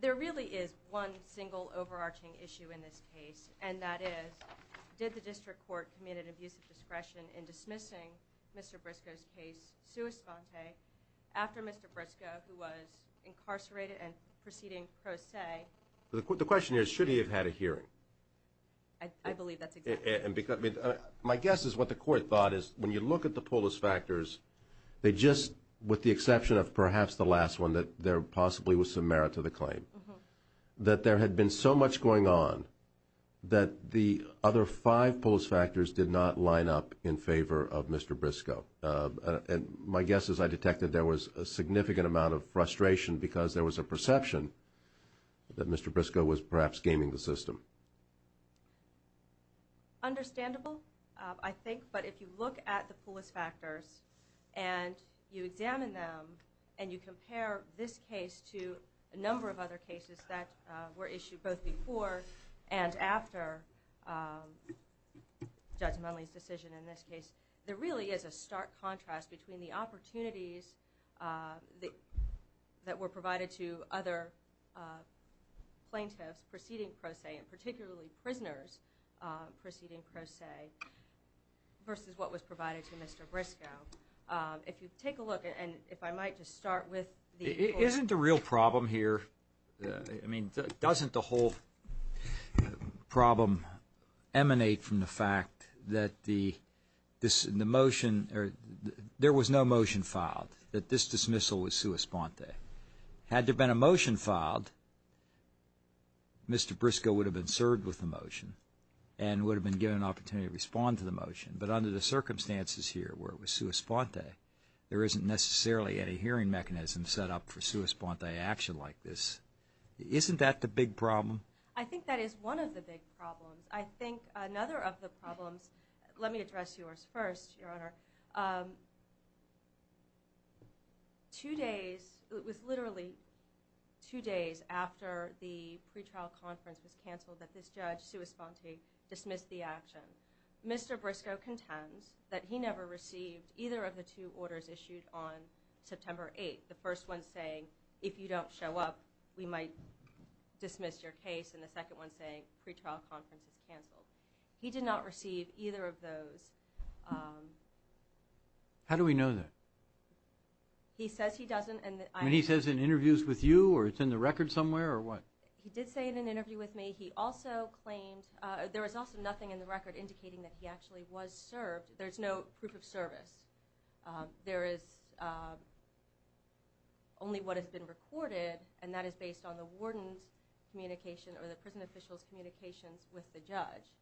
There really is one single overarching issue in this case, and that is, did the district court commit an abuse of discretion in dismissing Mr. Briscoe's case sua sponte after Mr. Briscoe, who was incarcerated and proceeding pro se? The question here is, should he have had a hearing? I believe that's exactly right. My guess is what the court thought is, when you look at the polis factors, they just, with the exception of perhaps the last one, that there possibly was some merit to the claim, that there had been so much going on that the other five polis factors did not line up in favor of Mr. Briscoe. My guess is I detected there was a significant amount of frustration because there was a perception that Mr. Briscoe was perhaps gaming the system. Understandable, I think, but if you look at the polis factors and you examine them and you compare this case to a number of other cases that were issued both before and after Judge Monelly's decision in this case, there really is a stark contrast between the opportunities that were provided to other plaintiffs proceeding pro se, and particularly prisoners proceeding pro se versus what was provided to Mr. Briscoe. If you take a look, and if I might just start with the court's... Isn't the real problem here, I mean, doesn't the whole problem emanate from the fact that the, this, the motion, there was no motion filed, that this dismissal was sua sponte. Had there been a motion filed, Mr. Briscoe would have been served with the motion and would have been given an opportunity to respond to the motion, but under the circumstances here, where it was sua sponte, there isn't necessarily any hearing mechanism set up for sua sponte action like this. Isn't that the big problem? I think that is one of the big problems. I think another of the problems, let me address yours first, Your Honor. Two days, it was literally two days after the pretrial conference was canceled that this judge, sua sponte, dismissed the action. Mr. Briscoe contends that he never received either of the two orders issued on September 8th. The first one saying, if you don't show up, we might dismiss your case, and the second one saying pretrial conference is canceled. He did not receive either of those. How do we know that? He says he doesn't. And he says in interviews with you, or it's in the record somewhere, or what? He did say in an interview with me, he also claimed, there was also nothing in the record indicating that he actually was served. There's no proof of service. There is only what has been recorded, and that is based on the warden's communication or the prison official's communications with the judge.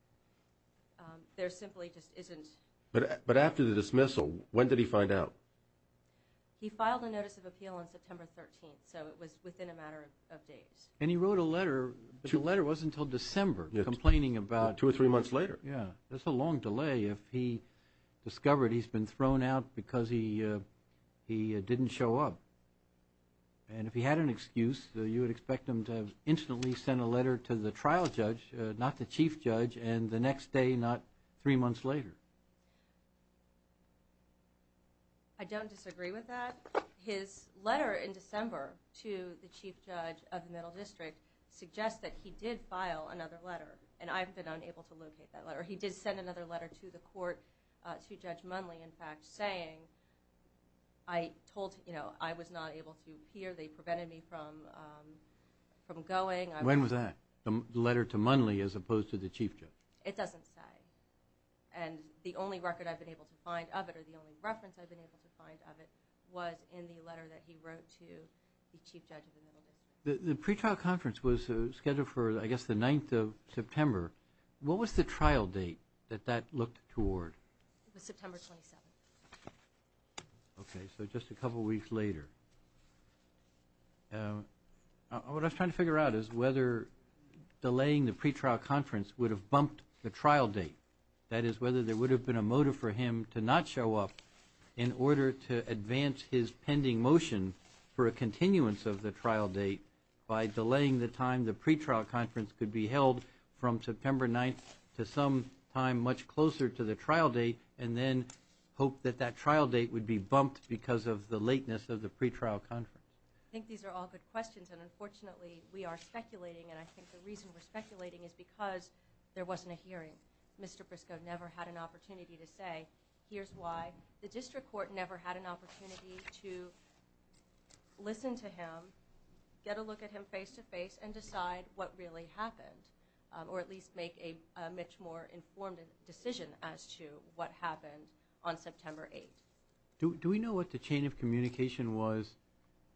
There simply just isn't. But after the dismissal, when did he find out? He filed a notice of appeal on September 13th, so it was within a matter of days. And he wrote a letter, but the letter wasn't until December, complaining about... Two or three months later. Yeah, that's a long delay if he discovered he's been thrown out because he didn't show up. And if he had an excuse, you would expect him to have instantly sent a letter to the trial judge, not the chief judge, and the next day, not three months later. I don't disagree with that. His letter in December to the chief judge of the Middle District suggests that he did file another letter, and I've been unable to locate that letter. He did send another letter to the court, to Judge Munley, in fact, saying, I told, you know, I was not able to appear, they prevented me from going. When was that? The letter to Munley as opposed to the chief judge? It doesn't say. And the only record I've been able to find of it, or the only reference I've been able to find of it, was in the letter that he wrote to the chief judge of the Middle District. The pretrial conference was scheduled for, I guess, the 9th of September. What was the trial date that that looked toward? It was September 27th. Okay, so just a couple weeks later. What I was trying to figure out is whether delaying the pretrial conference would have bumped the trial date. That is, whether there would have been a motive for him to not show up in order to advance his pending motion for a continuance of the trial date by delaying the time the pretrial conference could be held from September 9th to sometime much closer to the trial date, and then hope that that trial date would be bumped because of the lateness of the pretrial conference. I think these are all good questions, and unfortunately, we are speculating, and I think the reason we're speculating is because there wasn't a hearing. Mr. Briscoe never had an opportunity to say, here's why. The district court never had an opportunity to listen to him, get a look at him face-to-face, and decide what really happened, or at least make a much more informed decision as to what happened on September 8th. Do we know what the chain of communication was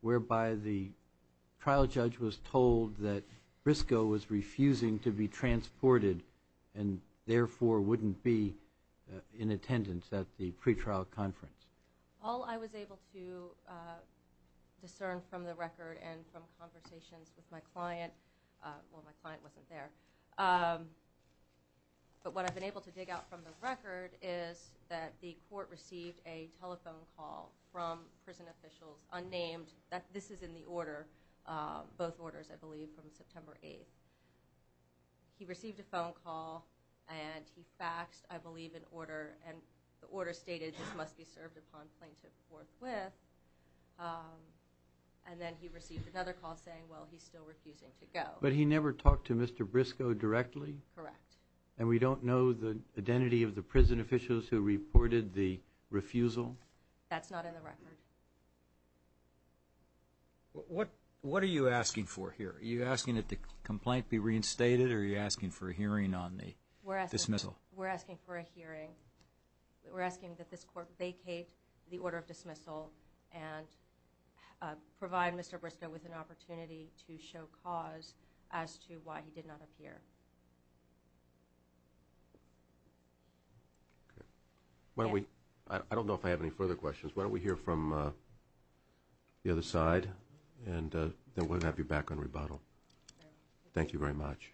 whereby the trial judge was told that Briscoe was refusing to be transported, and therefore wouldn't be in attendance at the pretrial conference? All I was able to discern from the record and from conversations with my client, well, my client wasn't there, but what I've been able to dig out from the record is that the court received a telephone call from prison officials, unnamed, that this is in the order, both orders, I believe, from September 8th. He received a phone call, and he faxed, I believe, an order, and the order stated, this must be served upon plaintiff forthwith, and then he received another call saying, well, he's still refusing to go. But he never talked to Mr. Briscoe directly? Correct. And we don't know the identity of the prison officials who reported the refusal? That's not in the record. What are you asking for here? Are you asking that the complaint be reinstated, or are you asking for a hearing on the dismissal? We're asking for a hearing. We're asking that this court vacate the order of dismissal and provide Mr. Briscoe with an opportunity to show cause as to why he did not appear. I don't know if I have any further questions. Why don't we hear from the other side, and then we'll have you back on rebuttal. Thank you very much.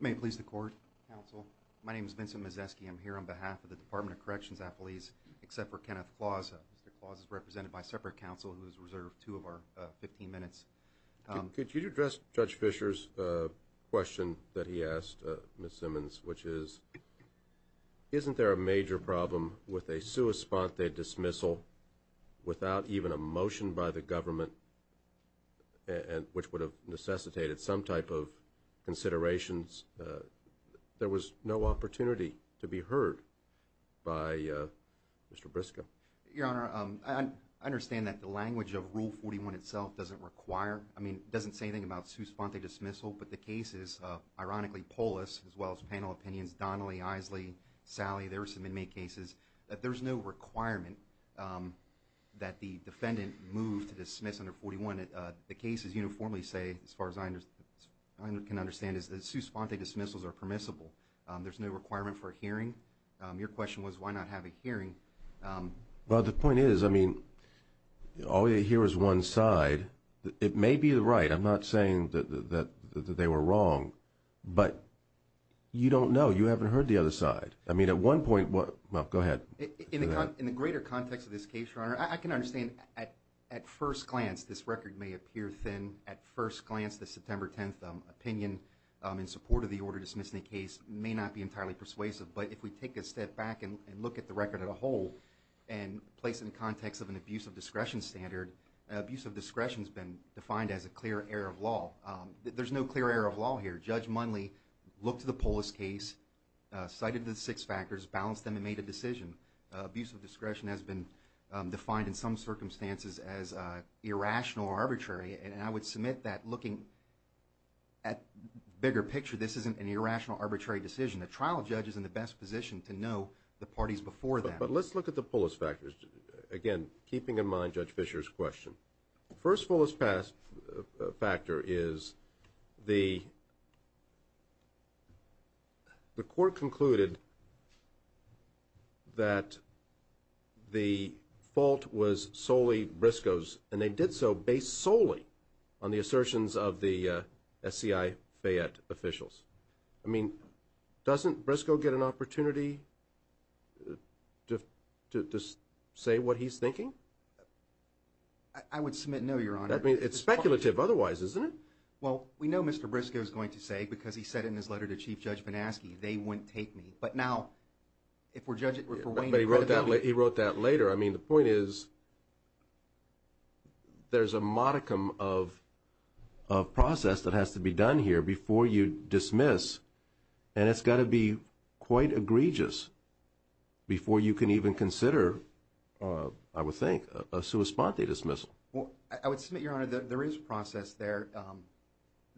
May it please the court, counsel. My name is Vincent Mazzeschi. I'm here on behalf of the Department of Corrections and Human Services. Except for Kenneth Claus. Mr. Claus is represented by separate counsel who is reserved two of our 15 minutes. Could you address Judge Fischer's question that he asked Ms. Simmons, which is, isn't there a major problem with a sua sponte dismissal without even a motion by the government, there was no opportunity to be heard by Mr. Briscoe? Your Honor, I understand that the language of Rule 41 itself doesn't require, I mean, it doesn't say anything about sua sponte dismissal, but the cases, ironically, Polis, as well as panel opinions, Donnelly, Isley, Sally, there were some inmate cases, that there's no requirement that the defendant move to dismiss under 41. The cases uniformly say, as far as I can understand, that sua sponte dismissals are permissible. There's no requirement for a hearing. Your question was, why not have a hearing? Well, the point is, I mean, all you hear is one side. It may be right. I'm not saying that they were wrong, but you don't know. You haven't heard the other side. I mean, at one point, well, go ahead. In the greater context of this case, Your Honor, I can understand, at first glance, this record may appear thin. At first glance, the September 10th opinion, in support of the order dismissing the case, may not be entirely persuasive. But if we take a step back and look at the record as a whole, and place it in the context of an abuse of discretion standard, abuse of discretion has been defined as a clear error of law. There's no clear error of law here. Judge Munley looked at the Polis case, cited the six factors, balanced them, and made a decision. Abuse of discretion has been defined in some circumstances as irrational or arbitrary, and I would submit that looking at the bigger picture, this isn't an irrational, arbitrary decision. The trial judge is in the best position to know the parties before them. But let's look at the Polis factors, again, keeping in mind Judge Fischer's question. The first Polis factor is the court concluded that the fault was solely Briscoe's, and they did so based solely on the assertions of the SCI Fayette officials. I mean, doesn't Briscoe get an opportunity to say what he's thinking? I would submit no, Your Honor. I mean, it's speculative otherwise, isn't it? Well, we know Mr. Briscoe is going to say, because he said in his letter to Chief Judge Banaski, they wouldn't take me. But now, if we're judging for Wayne and credibility. But he wrote that later. I mean, the point is, there's a modicum of process that has to be done here before you dismiss, and it's got to be quite egregious before you can even consider, I would think, a sua sponte dismissal. I would submit, Your Honor, that there is process there.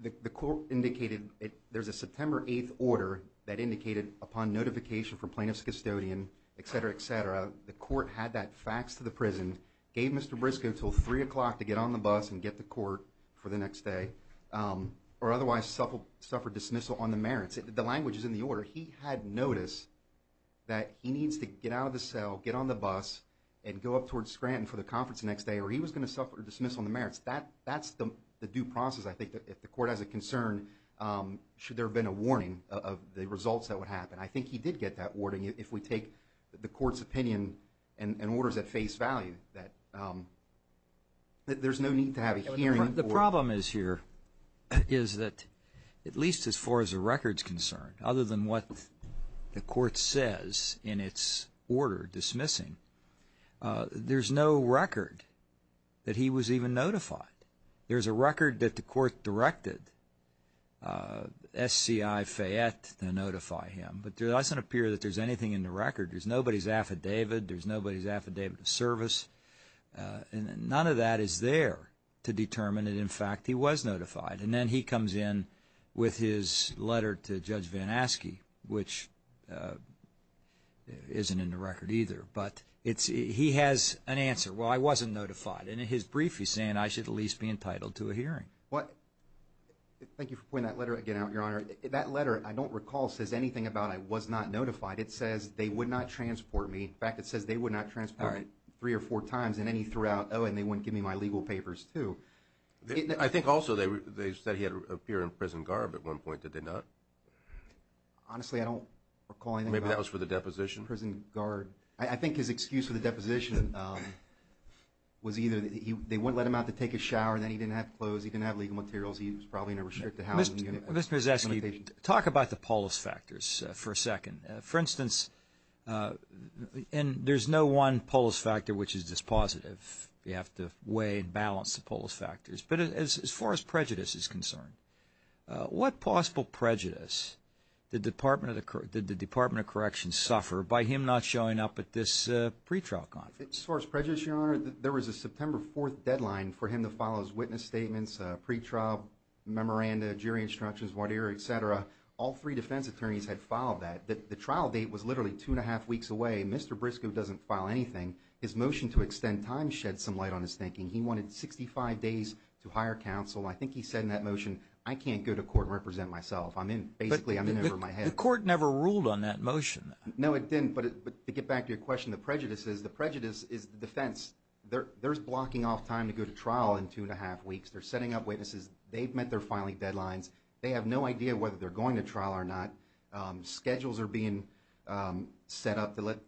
The court indicated there's a September 8th order that indicated upon notification from plaintiff's custodian, et cetera, et cetera, the court had that faxed to the prison, gave Mr. Briscoe until 3 o'clock to get on the bus and get to court for the next day, or otherwise suffer dismissal on the merits. The language is in the order. He had notice that he needs to get out of the cell, get on the bus, and go up towards Scranton for the conference the next day, or he was going to suffer dismissal on the merits. That's the due process, I think, if the court has a concern, should there have been a warning of the results that would happen. I think he did get that warning. If we take the court's opinion and orders at face value, that there's no need to have a hearing. The problem is here is that at least as far as the record's concerned, other than what the court says in its order dismissing, there's no record that he was even notified. There's a record that the court directed SCI Fayette to notify him, but it doesn't appear that there's anything in the record. There's nobody's affidavit. There's nobody's affidavit of service. None of that is there to determine that, in fact, he was notified. And then he comes in with his letter to Judge Van Aske, which isn't in the record either. But he has an answer. Well, I wasn't notified. And in his brief, he's saying I should at least be entitled to a hearing. Thank you for pointing that letter again out, Your Honor. That letter, I don't recall, says anything about I was not notified. It says they would not transport me. In fact, it says they would not transport me three or four times and any throughout. Oh, and they wouldn't give me my legal papers too. I think also they said he had appeared in prison guard at one point. Did they not? Honestly, I don't recall anything about that. Maybe that was for the deposition. Prison guard. I think his excuse for the deposition was either they wouldn't let him out to take a shower, then he didn't have clothes, he didn't have legal materials, he was probably in a restricted housing unit. Mr. Miseski, talk about the polis factors for a second. For instance, and there's no one polis factor which is dispositive. You have to weigh and balance the polis factors. But as far as prejudice is concerned, what possible prejudice did the Department of Corrections suffer by him not showing up at this pretrial conference? As far as prejudice, Your Honor, there was a September 4th deadline for him to file his witness statements, pretrial memoranda, jury instructions, voir dire, et cetera. All three defense attorneys had filed that. The trial date was literally two and a half weeks away. Mr. Briscoe doesn't file anything. His motion to extend time shed some light on his thinking. He wanted 65 days to hire counsel. I think he said in that motion, I can't go to court and represent myself. Basically, I'm in over my head. The court never ruled on that motion. No, it didn't. But to get back to your question of prejudices, the prejudice is the defense. There's blocking off time to go to trial in two and a half weeks. They're setting up witnesses. They've met their filing deadlines. They have no idea whether they're going to trial or not. Schedules are being set up to let,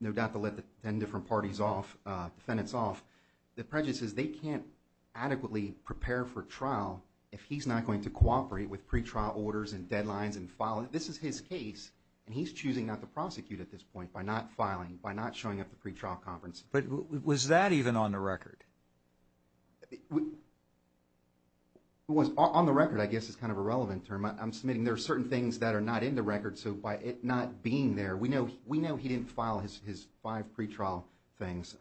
no doubt, to let the 10 different parties off, defendants off. The prejudice is they can't adequately prepare for trial if he's not going to cooperate with pretrial orders and deadlines and filing. This is his case, and he's choosing not to prosecute at this point by not filing, by not showing up at the pretrial conference. But was that even on the record? On the record, I guess, is kind of a relevant term. I'm submitting there are certain things that are not in the record. So by it not being there, we know he didn't file his five pretrial things.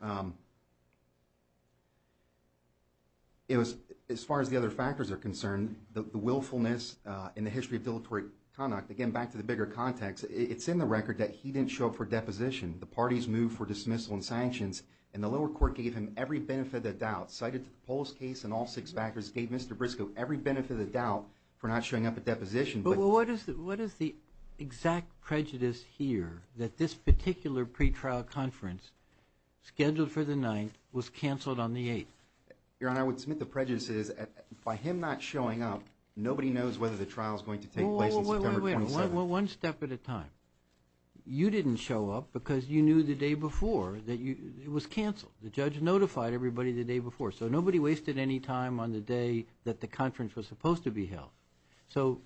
As far as the other factors are concerned, the willfulness in the history of dilatory conduct, again, back to the bigger context, it's in the record that he didn't show up for deposition. The parties moved for dismissal and sanctions, and the lower court gave him every benefit of the doubt. Cited to the Polis case and all six factors, gave Mr. Briscoe every benefit of the doubt for not showing up at deposition. But what is the exact prejudice here that this particular pretrial conference scheduled for the 9th was canceled on the 8th? Your Honor, I would submit the prejudice is by him not showing up, nobody knows whether the trial is going to take place on September 27th. Wait, wait, wait. One step at a time. You didn't show up because you knew the day before that it was canceled. The judge notified everybody the day before. So nobody wasted any time on the day that the conference was supposed to be held. So,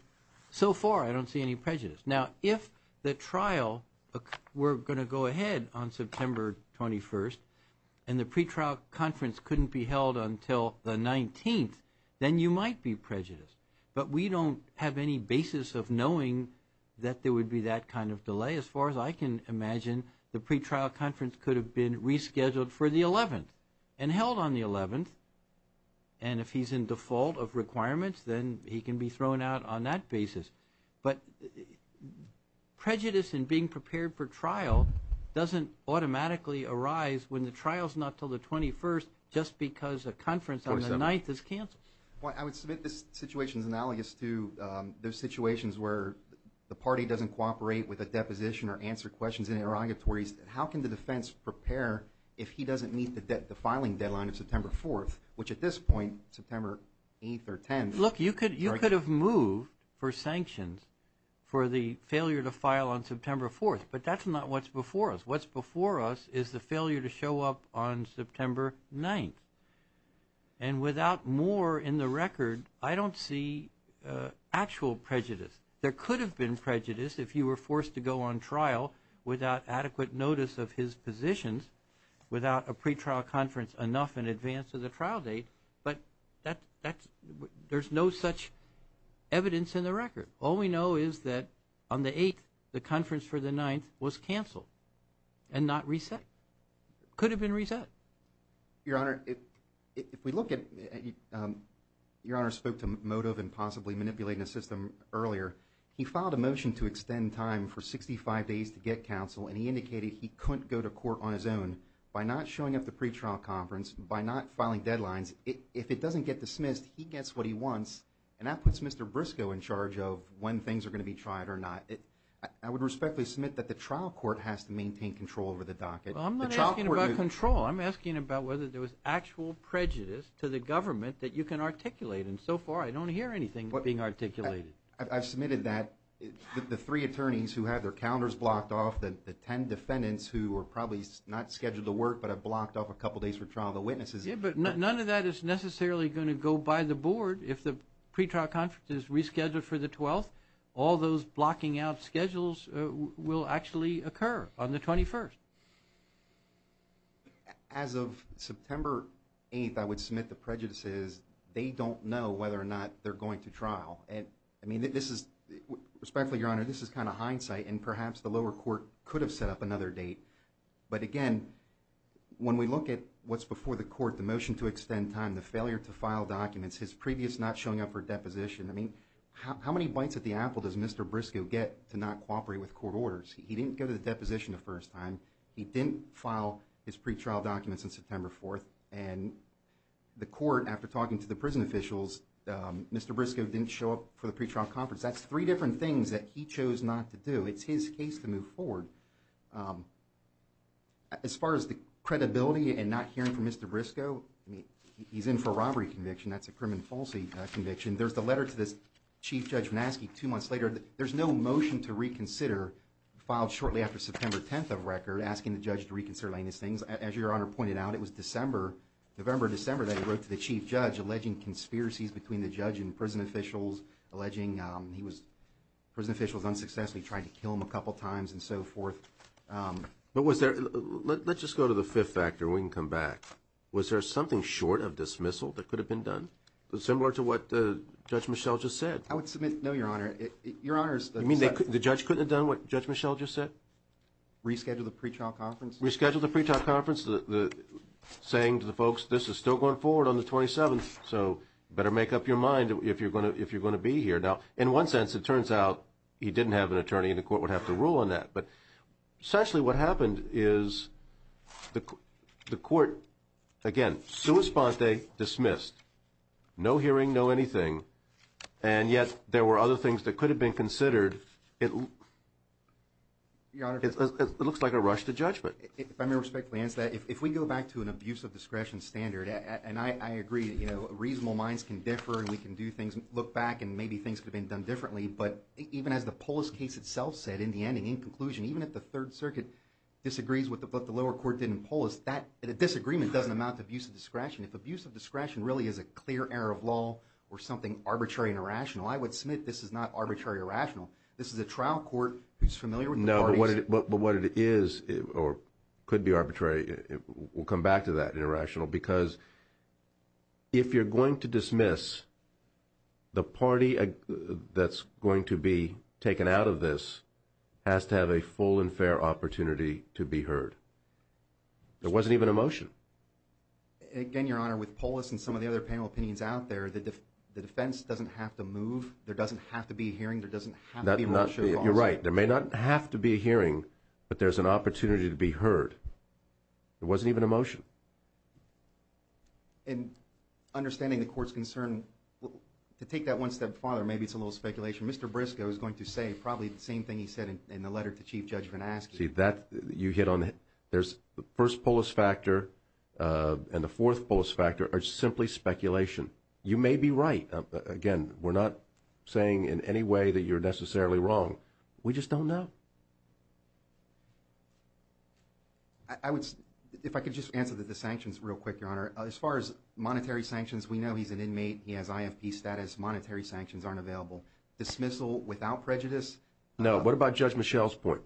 so far, I don't see any prejudice. Now, if the trial were going to go ahead on September 21st, and the pretrial conference couldn't be held until the 19th, then you might be prejudiced. But we don't have any basis of knowing that there would be that kind of delay. As far as I can imagine, the pretrial conference could have been rescheduled for the 11th and held on the 11th. And if he's in default of requirements, then he can be thrown out on that basis. But prejudice in being prepared for trial doesn't automatically arise when the trial is not until the 21st, just because a conference on the 9th is canceled. I would submit this situation is analogous to those situations where the party doesn't cooperate with a deposition or answer questions in interrogatories. How can the defense prepare if he doesn't meet the filing deadline of September 4th, which at this point, September 8th or 10th. Look, you could have moved for sanctions for the failure to file on September 4th. But that's not what's before us. What's before us is the failure to show up on September 9th. And without more in the record, I don't see actual prejudice. There could have been prejudice if you were forced to go on trial without adequate notice of his positions, without a pretrial conference enough in advance of the trial date. But there's no such evidence in the record. All we know is that on the 8th, the conference for the 9th was canceled and not reset. It could have been reset. Your Honor, if we look at it, Your Honor spoke to motive and possibly manipulating the system earlier. He filed a motion to extend time for 65 days to get counsel, and he indicated he couldn't go to court on his own by not showing up at the pretrial conference, by not filing deadlines. If it doesn't get dismissed, he gets what he wants, and that puts Mr. Briscoe in charge of when things are going to be tried or not. I would respectfully submit that the trial court has to maintain control over the docket. Well, I'm not asking about control. I'm asking about whether there was actual prejudice to the government that you can articulate, and so far I don't hear anything being articulated. I've submitted that the three attorneys who had their calendars blocked off, the ten defendants who were probably not scheduled to work but have blocked off a couple days for trial, the witnesses. Yeah, but none of that is necessarily going to go by the board. If the pretrial conference is rescheduled for the 12th, all those blocking out schedules will actually occur on the 21st. As of September 8th, I would submit the prejudice is they don't know whether or not they're going to trial. I mean, respectfully, Your Honor, this is kind of hindsight, and perhaps the lower court could have set up another date. But again, when we look at what's before the court, the motion to extend time, the failure to file documents, his previous not showing up for deposition, I mean, how many bites at the apple does Mr. Briscoe get to not cooperate with court orders? He didn't go to the deposition the first time. He didn't file his pretrial documents on September 4th, and the court, after talking to the prison officials, Mr. Briscoe didn't show up for the pretrial conference. That's three different things that he chose not to do. It's his case to move forward. As far as the credibility and not hearing from Mr. Briscoe, I mean, he's in for a robbery conviction. That's a crime and falsity conviction. There's the letter to this Chief Judge Vanasky two months later. There's no motion to reconsider filed shortly after September 10th of record, asking the judge to reconsider these things. As Your Honor pointed out, it was December, November or December, that he wrote to the Chief Judge alleging conspiracies between the judge and prison officials, alleging he was, prison officials unsuccessfully tried to kill him a couple times and so forth. But was there, let's just go to the fifth factor. We can come back. Was there something short of dismissal that could have been done, similar to what Judge Michel just said? I would submit no, Your Honor. Your Honor is— You mean the judge couldn't have done what Judge Michel just said? Reschedule the pretrial conference? Reschedule the pretrial conference, saying to the folks, this is still going forward on the 27th, so better make up your mind if you're going to be here. Now, in one sense, it turns out he didn't have an attorney, and the court would have to rule on that. But essentially what happened is the court, again, sua sponte, dismissed. No hearing, no anything, and yet there were other things that could have been considered. Your Honor— It looks like a rush to judgment. If I may respectfully answer that, if we go back to an abuse of discretion standard, and I agree, you know, reasonable minds can differ and we can do things, look back and maybe things could have been done differently, but even as the Polis case itself said in the ending, in conclusion, even if the Third Circuit disagrees with what the lower court did in Polis, that disagreement doesn't amount to abuse of discretion. If abuse of discretion really is a clear error of law or something arbitrary and irrational, I would submit this is not arbitrary or irrational. This is a trial court who's familiar with the parties— No, but what it is or could be arbitrary, we'll come back to that, because if you're going to dismiss, the party that's going to be taken out of this has to have a full and fair opportunity to be heard. There wasn't even a motion. Again, Your Honor, with Polis and some of the other panel opinions out there, the defense doesn't have to move. There doesn't have to be a hearing. There doesn't have to be a motion. You're right. There may not have to be a hearing, but there's an opportunity to be heard. There wasn't even a motion. And understanding the court's concern, to take that one step farther, maybe it's a little speculation, Mr. Briscoe is going to say probably the same thing he said in the letter to Chief Judge Van Aske. See, that—you hit on it. There's the first Polis factor and the fourth Polis factor are simply speculation. You may be right. Again, we're not saying in any way that you're necessarily wrong. We just don't know. I would—if I could just answer the sanctions real quick, Your Honor. As far as monetary sanctions, we know he's an inmate. He has IFP status. Monetary sanctions aren't available. Dismissal without prejudice? No. What about Judge Michel's point?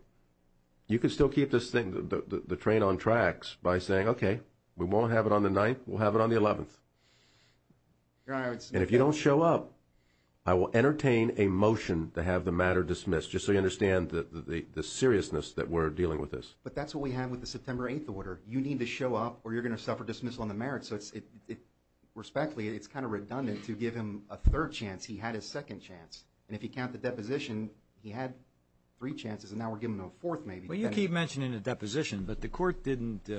You could still keep this thing—the train on tracks by saying, okay, we won't have it on the 9th. We'll have it on the 11th. And if you don't show up, I will entertain a motion to have the matter dismissed, just so you understand the seriousness that we're dealing with this. But that's what we have with the September 8th order. You need to show up or you're going to suffer dismissal on the merits. Respectfully, it's kind of redundant to give him a third chance. He had his second chance. And if you count the deposition, he had three chances, and now we're giving him a fourth maybe. Well, you keep mentioning the deposition, but the court didn't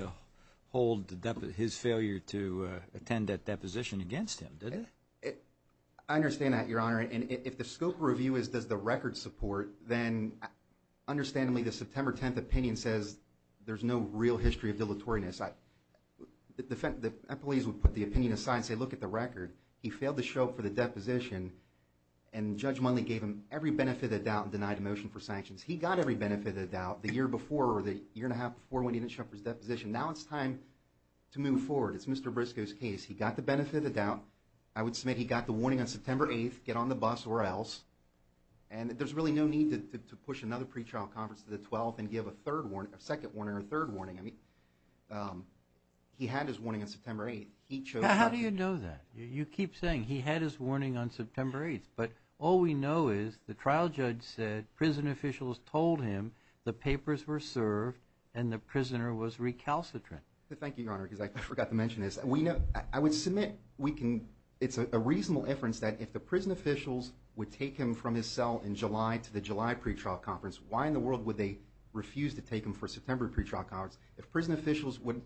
hold his failure to attend that deposition against him, did it? I understand that, Your Honor. And if the scope of review is does the record support, then understandably the September 10th opinion says there's no real history of dilatoriness. The employees would put the opinion aside and say, look at the record. He failed to show up for the deposition, and Judge Munley gave him every benefit of the doubt and denied a motion for sanctions. He got every benefit of the doubt the year before or the year and a half before when he didn't show up for his deposition. Now it's time to move forward. It's Mr. Briscoe's case. He got the benefit of the doubt. I would submit he got the warning on September 8th, get on the bus or else. And there's really no need to push another pretrial conference to the 12th and give a second warning or a third warning. I mean, he had his warning on September 8th. How do you know that? You keep saying he had his warning on September 8th, but all we know is the trial judge said prison officials told him the papers were served and the prisoner was recalcitrant. Thank you, Your Honor, because I forgot to mention this. I would submit it's a reasonable inference that if the prison officials would take him from his cell in July to the July pretrial conference, why in the world would they refuse to take him for a September pretrial conference? If prison officials would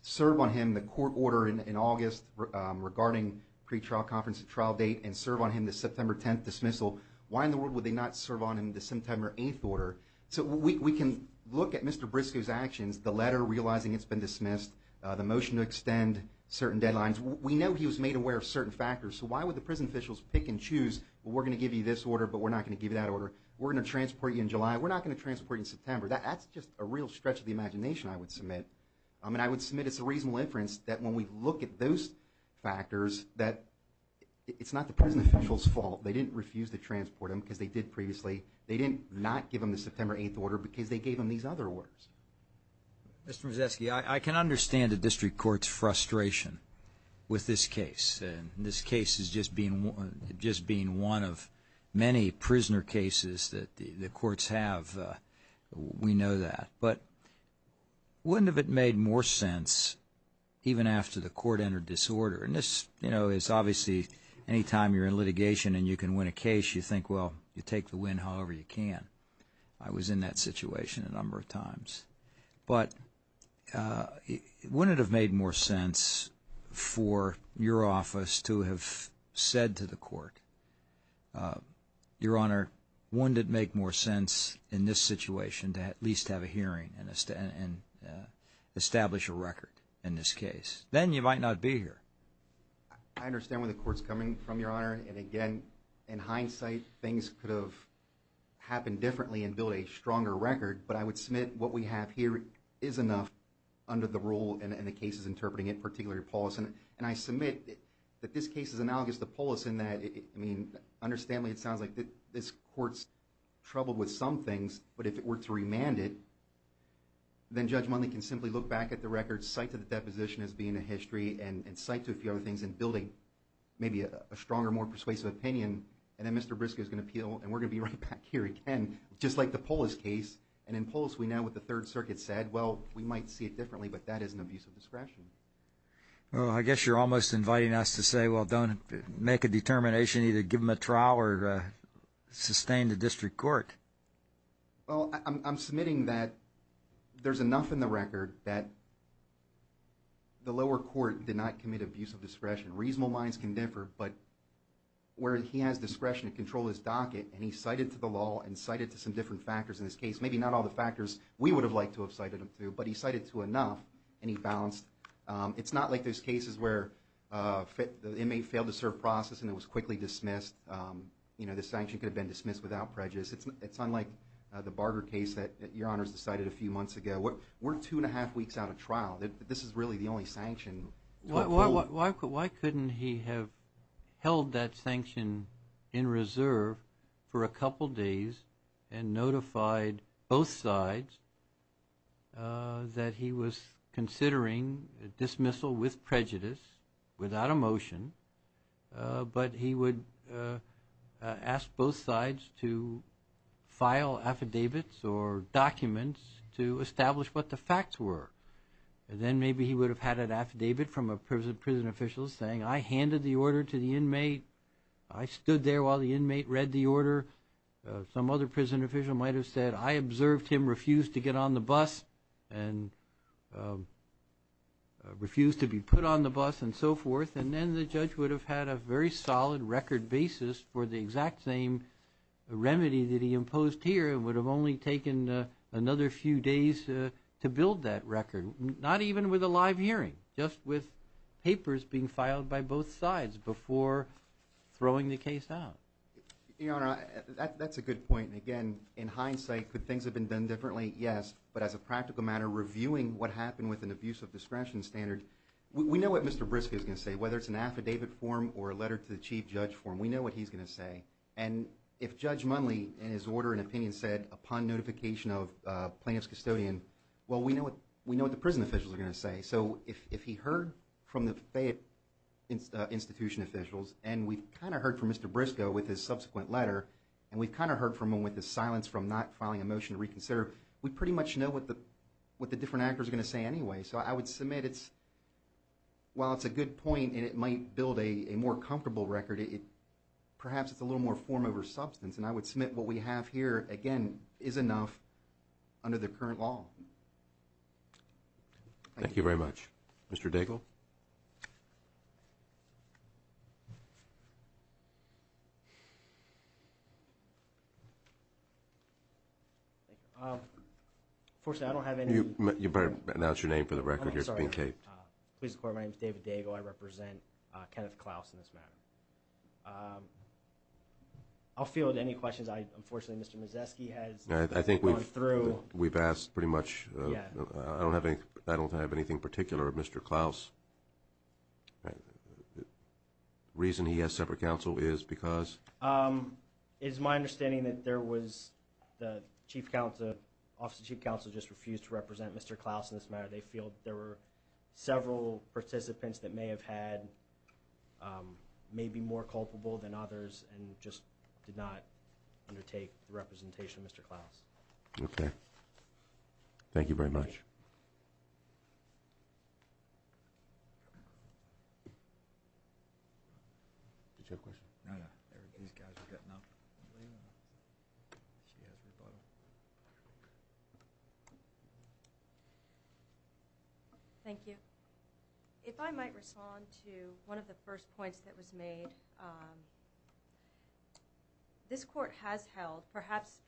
serve on him the court order in August regarding pretrial conference trial date and serve on him the September 10th dismissal, why in the world would they not serve on him the September 8th order? So we can look at Mr. Briscoe's actions, the letter realizing it's been dismissed, the motion to extend certain deadlines. We know he was made aware of certain factors, so why would the prison officials pick and choose, well, we're going to give you this order, but we're not going to give you that order. We're going to transport you in July. We're not going to transport you in September. That's just a real stretch of the imagination, I would submit. I mean, I would submit it's a reasonable inference that when we look at those factors, that it's not the prison officials' fault. They didn't refuse to transport him because they did previously. They did not give him the September 8th order because they gave him these other orders. Mr. Mazesky, I can understand the district court's frustration with this case, and this case is just being one of many prisoner cases that the courts have. We know that. But wouldn't it have made more sense even after the court entered disorder? And this, you know, is obviously any time you're in litigation and you can win a case, you think, well, you take the win however you can. I was in that situation a number of times. But wouldn't it have made more sense for your office to have said to the court, Your Honor, wouldn't it make more sense in this situation to at least have a hearing and establish a record in this case? Then you might not be here. I understand where the court's coming from, Your Honor. And, again, in hindsight, things could have happened differently and built a stronger record. But I would submit what we have here is enough under the rule and the cases interpreting it, particularly Paul's. And I submit that this case is analogous to Paul's in that, I mean, understandably it sounds like this court's troubled with some things, but if it were to remand it, then Judge Mundley can simply look back at the records, cite to the deposition as being a history, and cite to a few other things and build maybe a stronger, more persuasive opinion. And then Mr. Briscoe's going to appeal, and we're going to be right back here again, just like the Polis case. And in Polis we know what the Third Circuit said. Well, we might see it differently, but that is an abuse of discretion. Well, I guess you're almost inviting us to say, well, don't make a determination. Either give them a trial or sustain the district court. Well, I'm submitting that there's enough in the record that the lower court did not commit the abuse of discretion. Reasonable minds can differ, but where he has discretion to control his docket and he cited to the law and cited to some different factors in this case, maybe not all the factors we would have liked to have cited him to, but he cited to enough and he balanced. It's not like those cases where the inmate failed to serve process and it was quickly dismissed. You know, the sanction could have been dismissed without prejudice. It's unlike the Barger case that Your Honors decided a few months ago. We're two and a half weeks out of trial. This is really the only sanction. Why couldn't he have held that sanction in reserve for a couple days and notified both sides that he was considering dismissal with prejudice, without a motion, but he would ask both sides to file affidavits or documents to establish what the facts were. And then maybe he would have had an affidavit from a prison official saying, I handed the order to the inmate. I stood there while the inmate read the order. Some other prison official might have said, I observed him refuse to get on the bus and refuse to be put on the bus and so forth. And then the judge would have had a very solid record basis for the exact same remedy that he imposed here and would have only taken another few days to build that record, not even with a live hearing, just with papers being filed by both sides before throwing the case out. Your Honor, that's a good point. Again, in hindsight, could things have been done differently? Yes, but as a practical matter, reviewing what happened with an abuse of discretion standard, we know what Mr. Briscoe is going to say. Whether it's an affidavit form or a letter to the chief judge form, we know what he's going to say. And if Judge Munley, in his order and opinion, said upon notification of plaintiff's custodian, well, we know what the prison officials are going to say. So if he heard from the Fayette Institution officials, and we've kind of heard from Mr. Briscoe with his subsequent letter, and we've kind of heard from him with his silence from not filing a motion to reconsider, we pretty much know what the different actors are going to say anyway. So I would submit, while it's a good point and it might build a more comfortable record, perhaps it's a little more form over substance, and I would submit what we have here, again, is enough under the current law. Thank you. Thank you very much. Mr. Daigle? Unfortunately, I don't have anything. You better announce your name for the record. I'm sorry. Please record my name is David Daigle. I represent Kenneth Klaus in this matter. I'll field any questions. Unfortunately, Mr. Mazesky has gone through. We've asked pretty much. I don't have anything particular of Mr. Klaus. The reason he has separate counsel is because? It is my understanding that there was the Chief Counsel, Office of Chief Counsel just refused to represent Mr. Klaus in this matter. They feel there were several participants that may have had maybe more culpable than others and just did not undertake the representation of Mr. Klaus. Okay. Thank you very much. Did you have a question? No, no. These guys are getting up. She has rebuttal. Thank you. If I might respond to one of the first points that was made, this court has held perhaps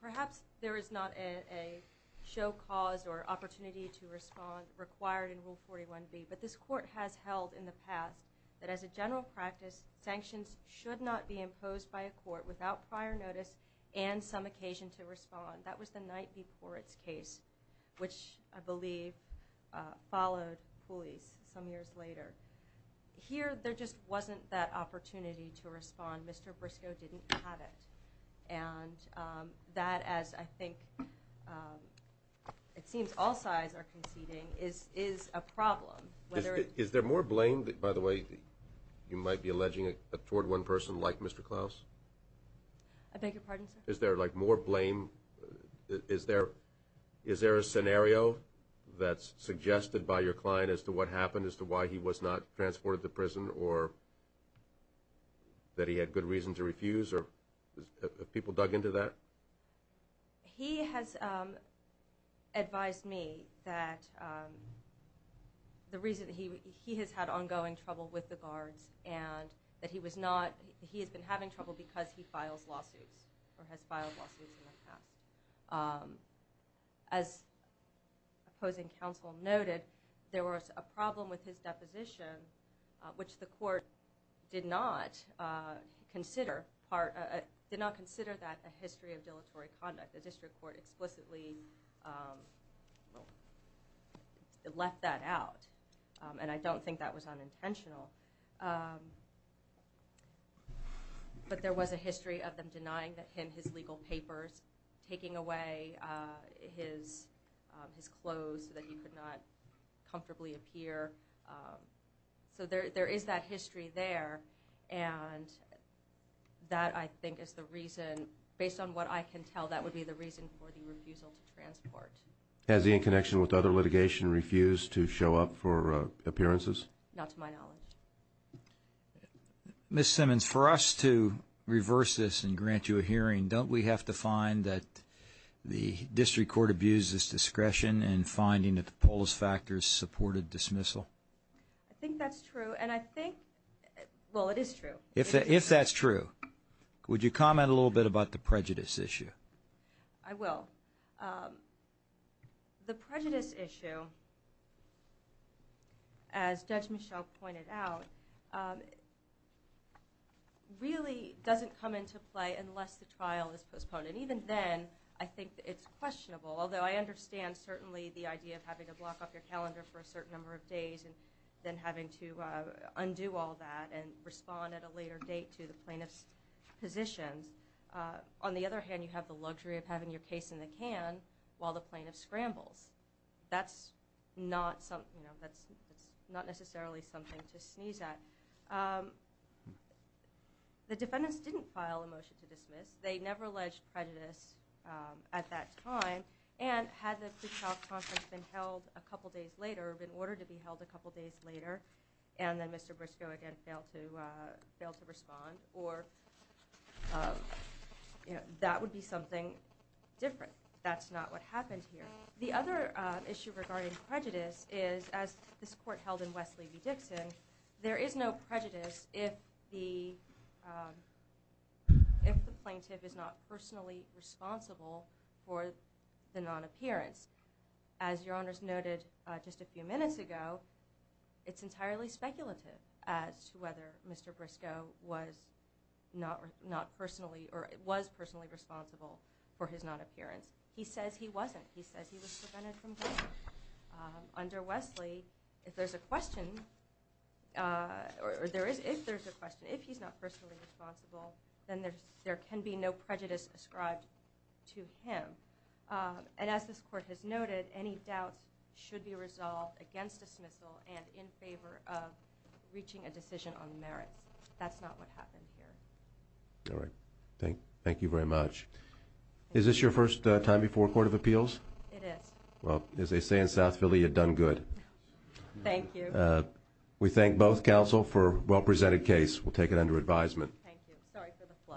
there is not a show cause or opportunity to respond required in Rule 41B, but this court has held in the past that as a general practice, sanctions should not be imposed by a court without prior notice and some occasion to respond. That was the night before its case, which I believe followed police some years later. Here there just wasn't that opportunity to respond. Mr. Briscoe didn't have it. And that, as I think it seems all sides are conceding, is a problem. Is there more blame, by the way, you might be alleging toward one person like Mr. Klaus? I beg your pardon, sir? Is there like more blame? Is there a scenario that's suggested by your client as to what happened, as to why he was not transported to prison or that he had good reason to refuse? Have people dug into that? He has advised me that he has had ongoing trouble with the guards and that he has been having trouble because he files lawsuits or has filed lawsuits in the past. As opposing counsel noted, there was a problem with his deposition, which the court did not consider that a history of dilatory conduct. The district court explicitly let that out. And I don't think that was unintentional. But there was a history of them denying him his legal papers, taking away his clothes so that he could not comfortably appear. So there is that history there. And that, I think, is the reason, based on what I can tell, that would be the reason for the refusal to transport. Has he, in connection with other litigation, refused to show up for appearances? Not to my knowledge. Ms. Simmons, for us to reverse this and grant you a hearing, don't we have to find that the district court abused its discretion in finding that the polis factors supported dismissal? I think that's true. And I think, well, it is true. If that's true, would you comment a little bit about the prejudice issue? I will. The prejudice issue, as Judge Michel pointed out, really doesn't come into play unless the trial is postponed. And even then, I think it's questionable. Although I understand, certainly, the idea of having to block up your calendar for a certain number of days and then having to undo all that and respond at a later date to the plaintiff's positions. On the other hand, you have the luxury of having your case in the can while the plaintiff scrambles. That's not necessarily something to sneeze at. The defendants didn't file a motion to dismiss. They never alleged prejudice at that time. And had the pre-trial conference been held a couple days later or been ordered to be held a couple days later and then Mr. Briscoe again failed to respond or that would be something different. That's not what happened here. The other issue regarding prejudice is, as this court held in Wesley v. Dixon, there is no prejudice if the plaintiff is not personally responsible for the non-appearance. As Your Honors noted just a few minutes ago, it's entirely speculative as to whether Mr. Briscoe was personally responsible for his non-appearance. He says he wasn't. He says he was prevented from going. Under Wesley, if there's a question, if he's not personally responsible, then there can be no prejudice ascribed to him. And as this court has noted, any doubts should be resolved against dismissal and in favor of reaching a decision on merits. That's not what happened here. All right. Thank you very much. Is this your first time before a court of appeals? It is. Well, as they say in South Philly, you've done good. Thank you. We thank both counsel for a well-presented case. We'll take it under advisement. Thank you. Sorry for the flush.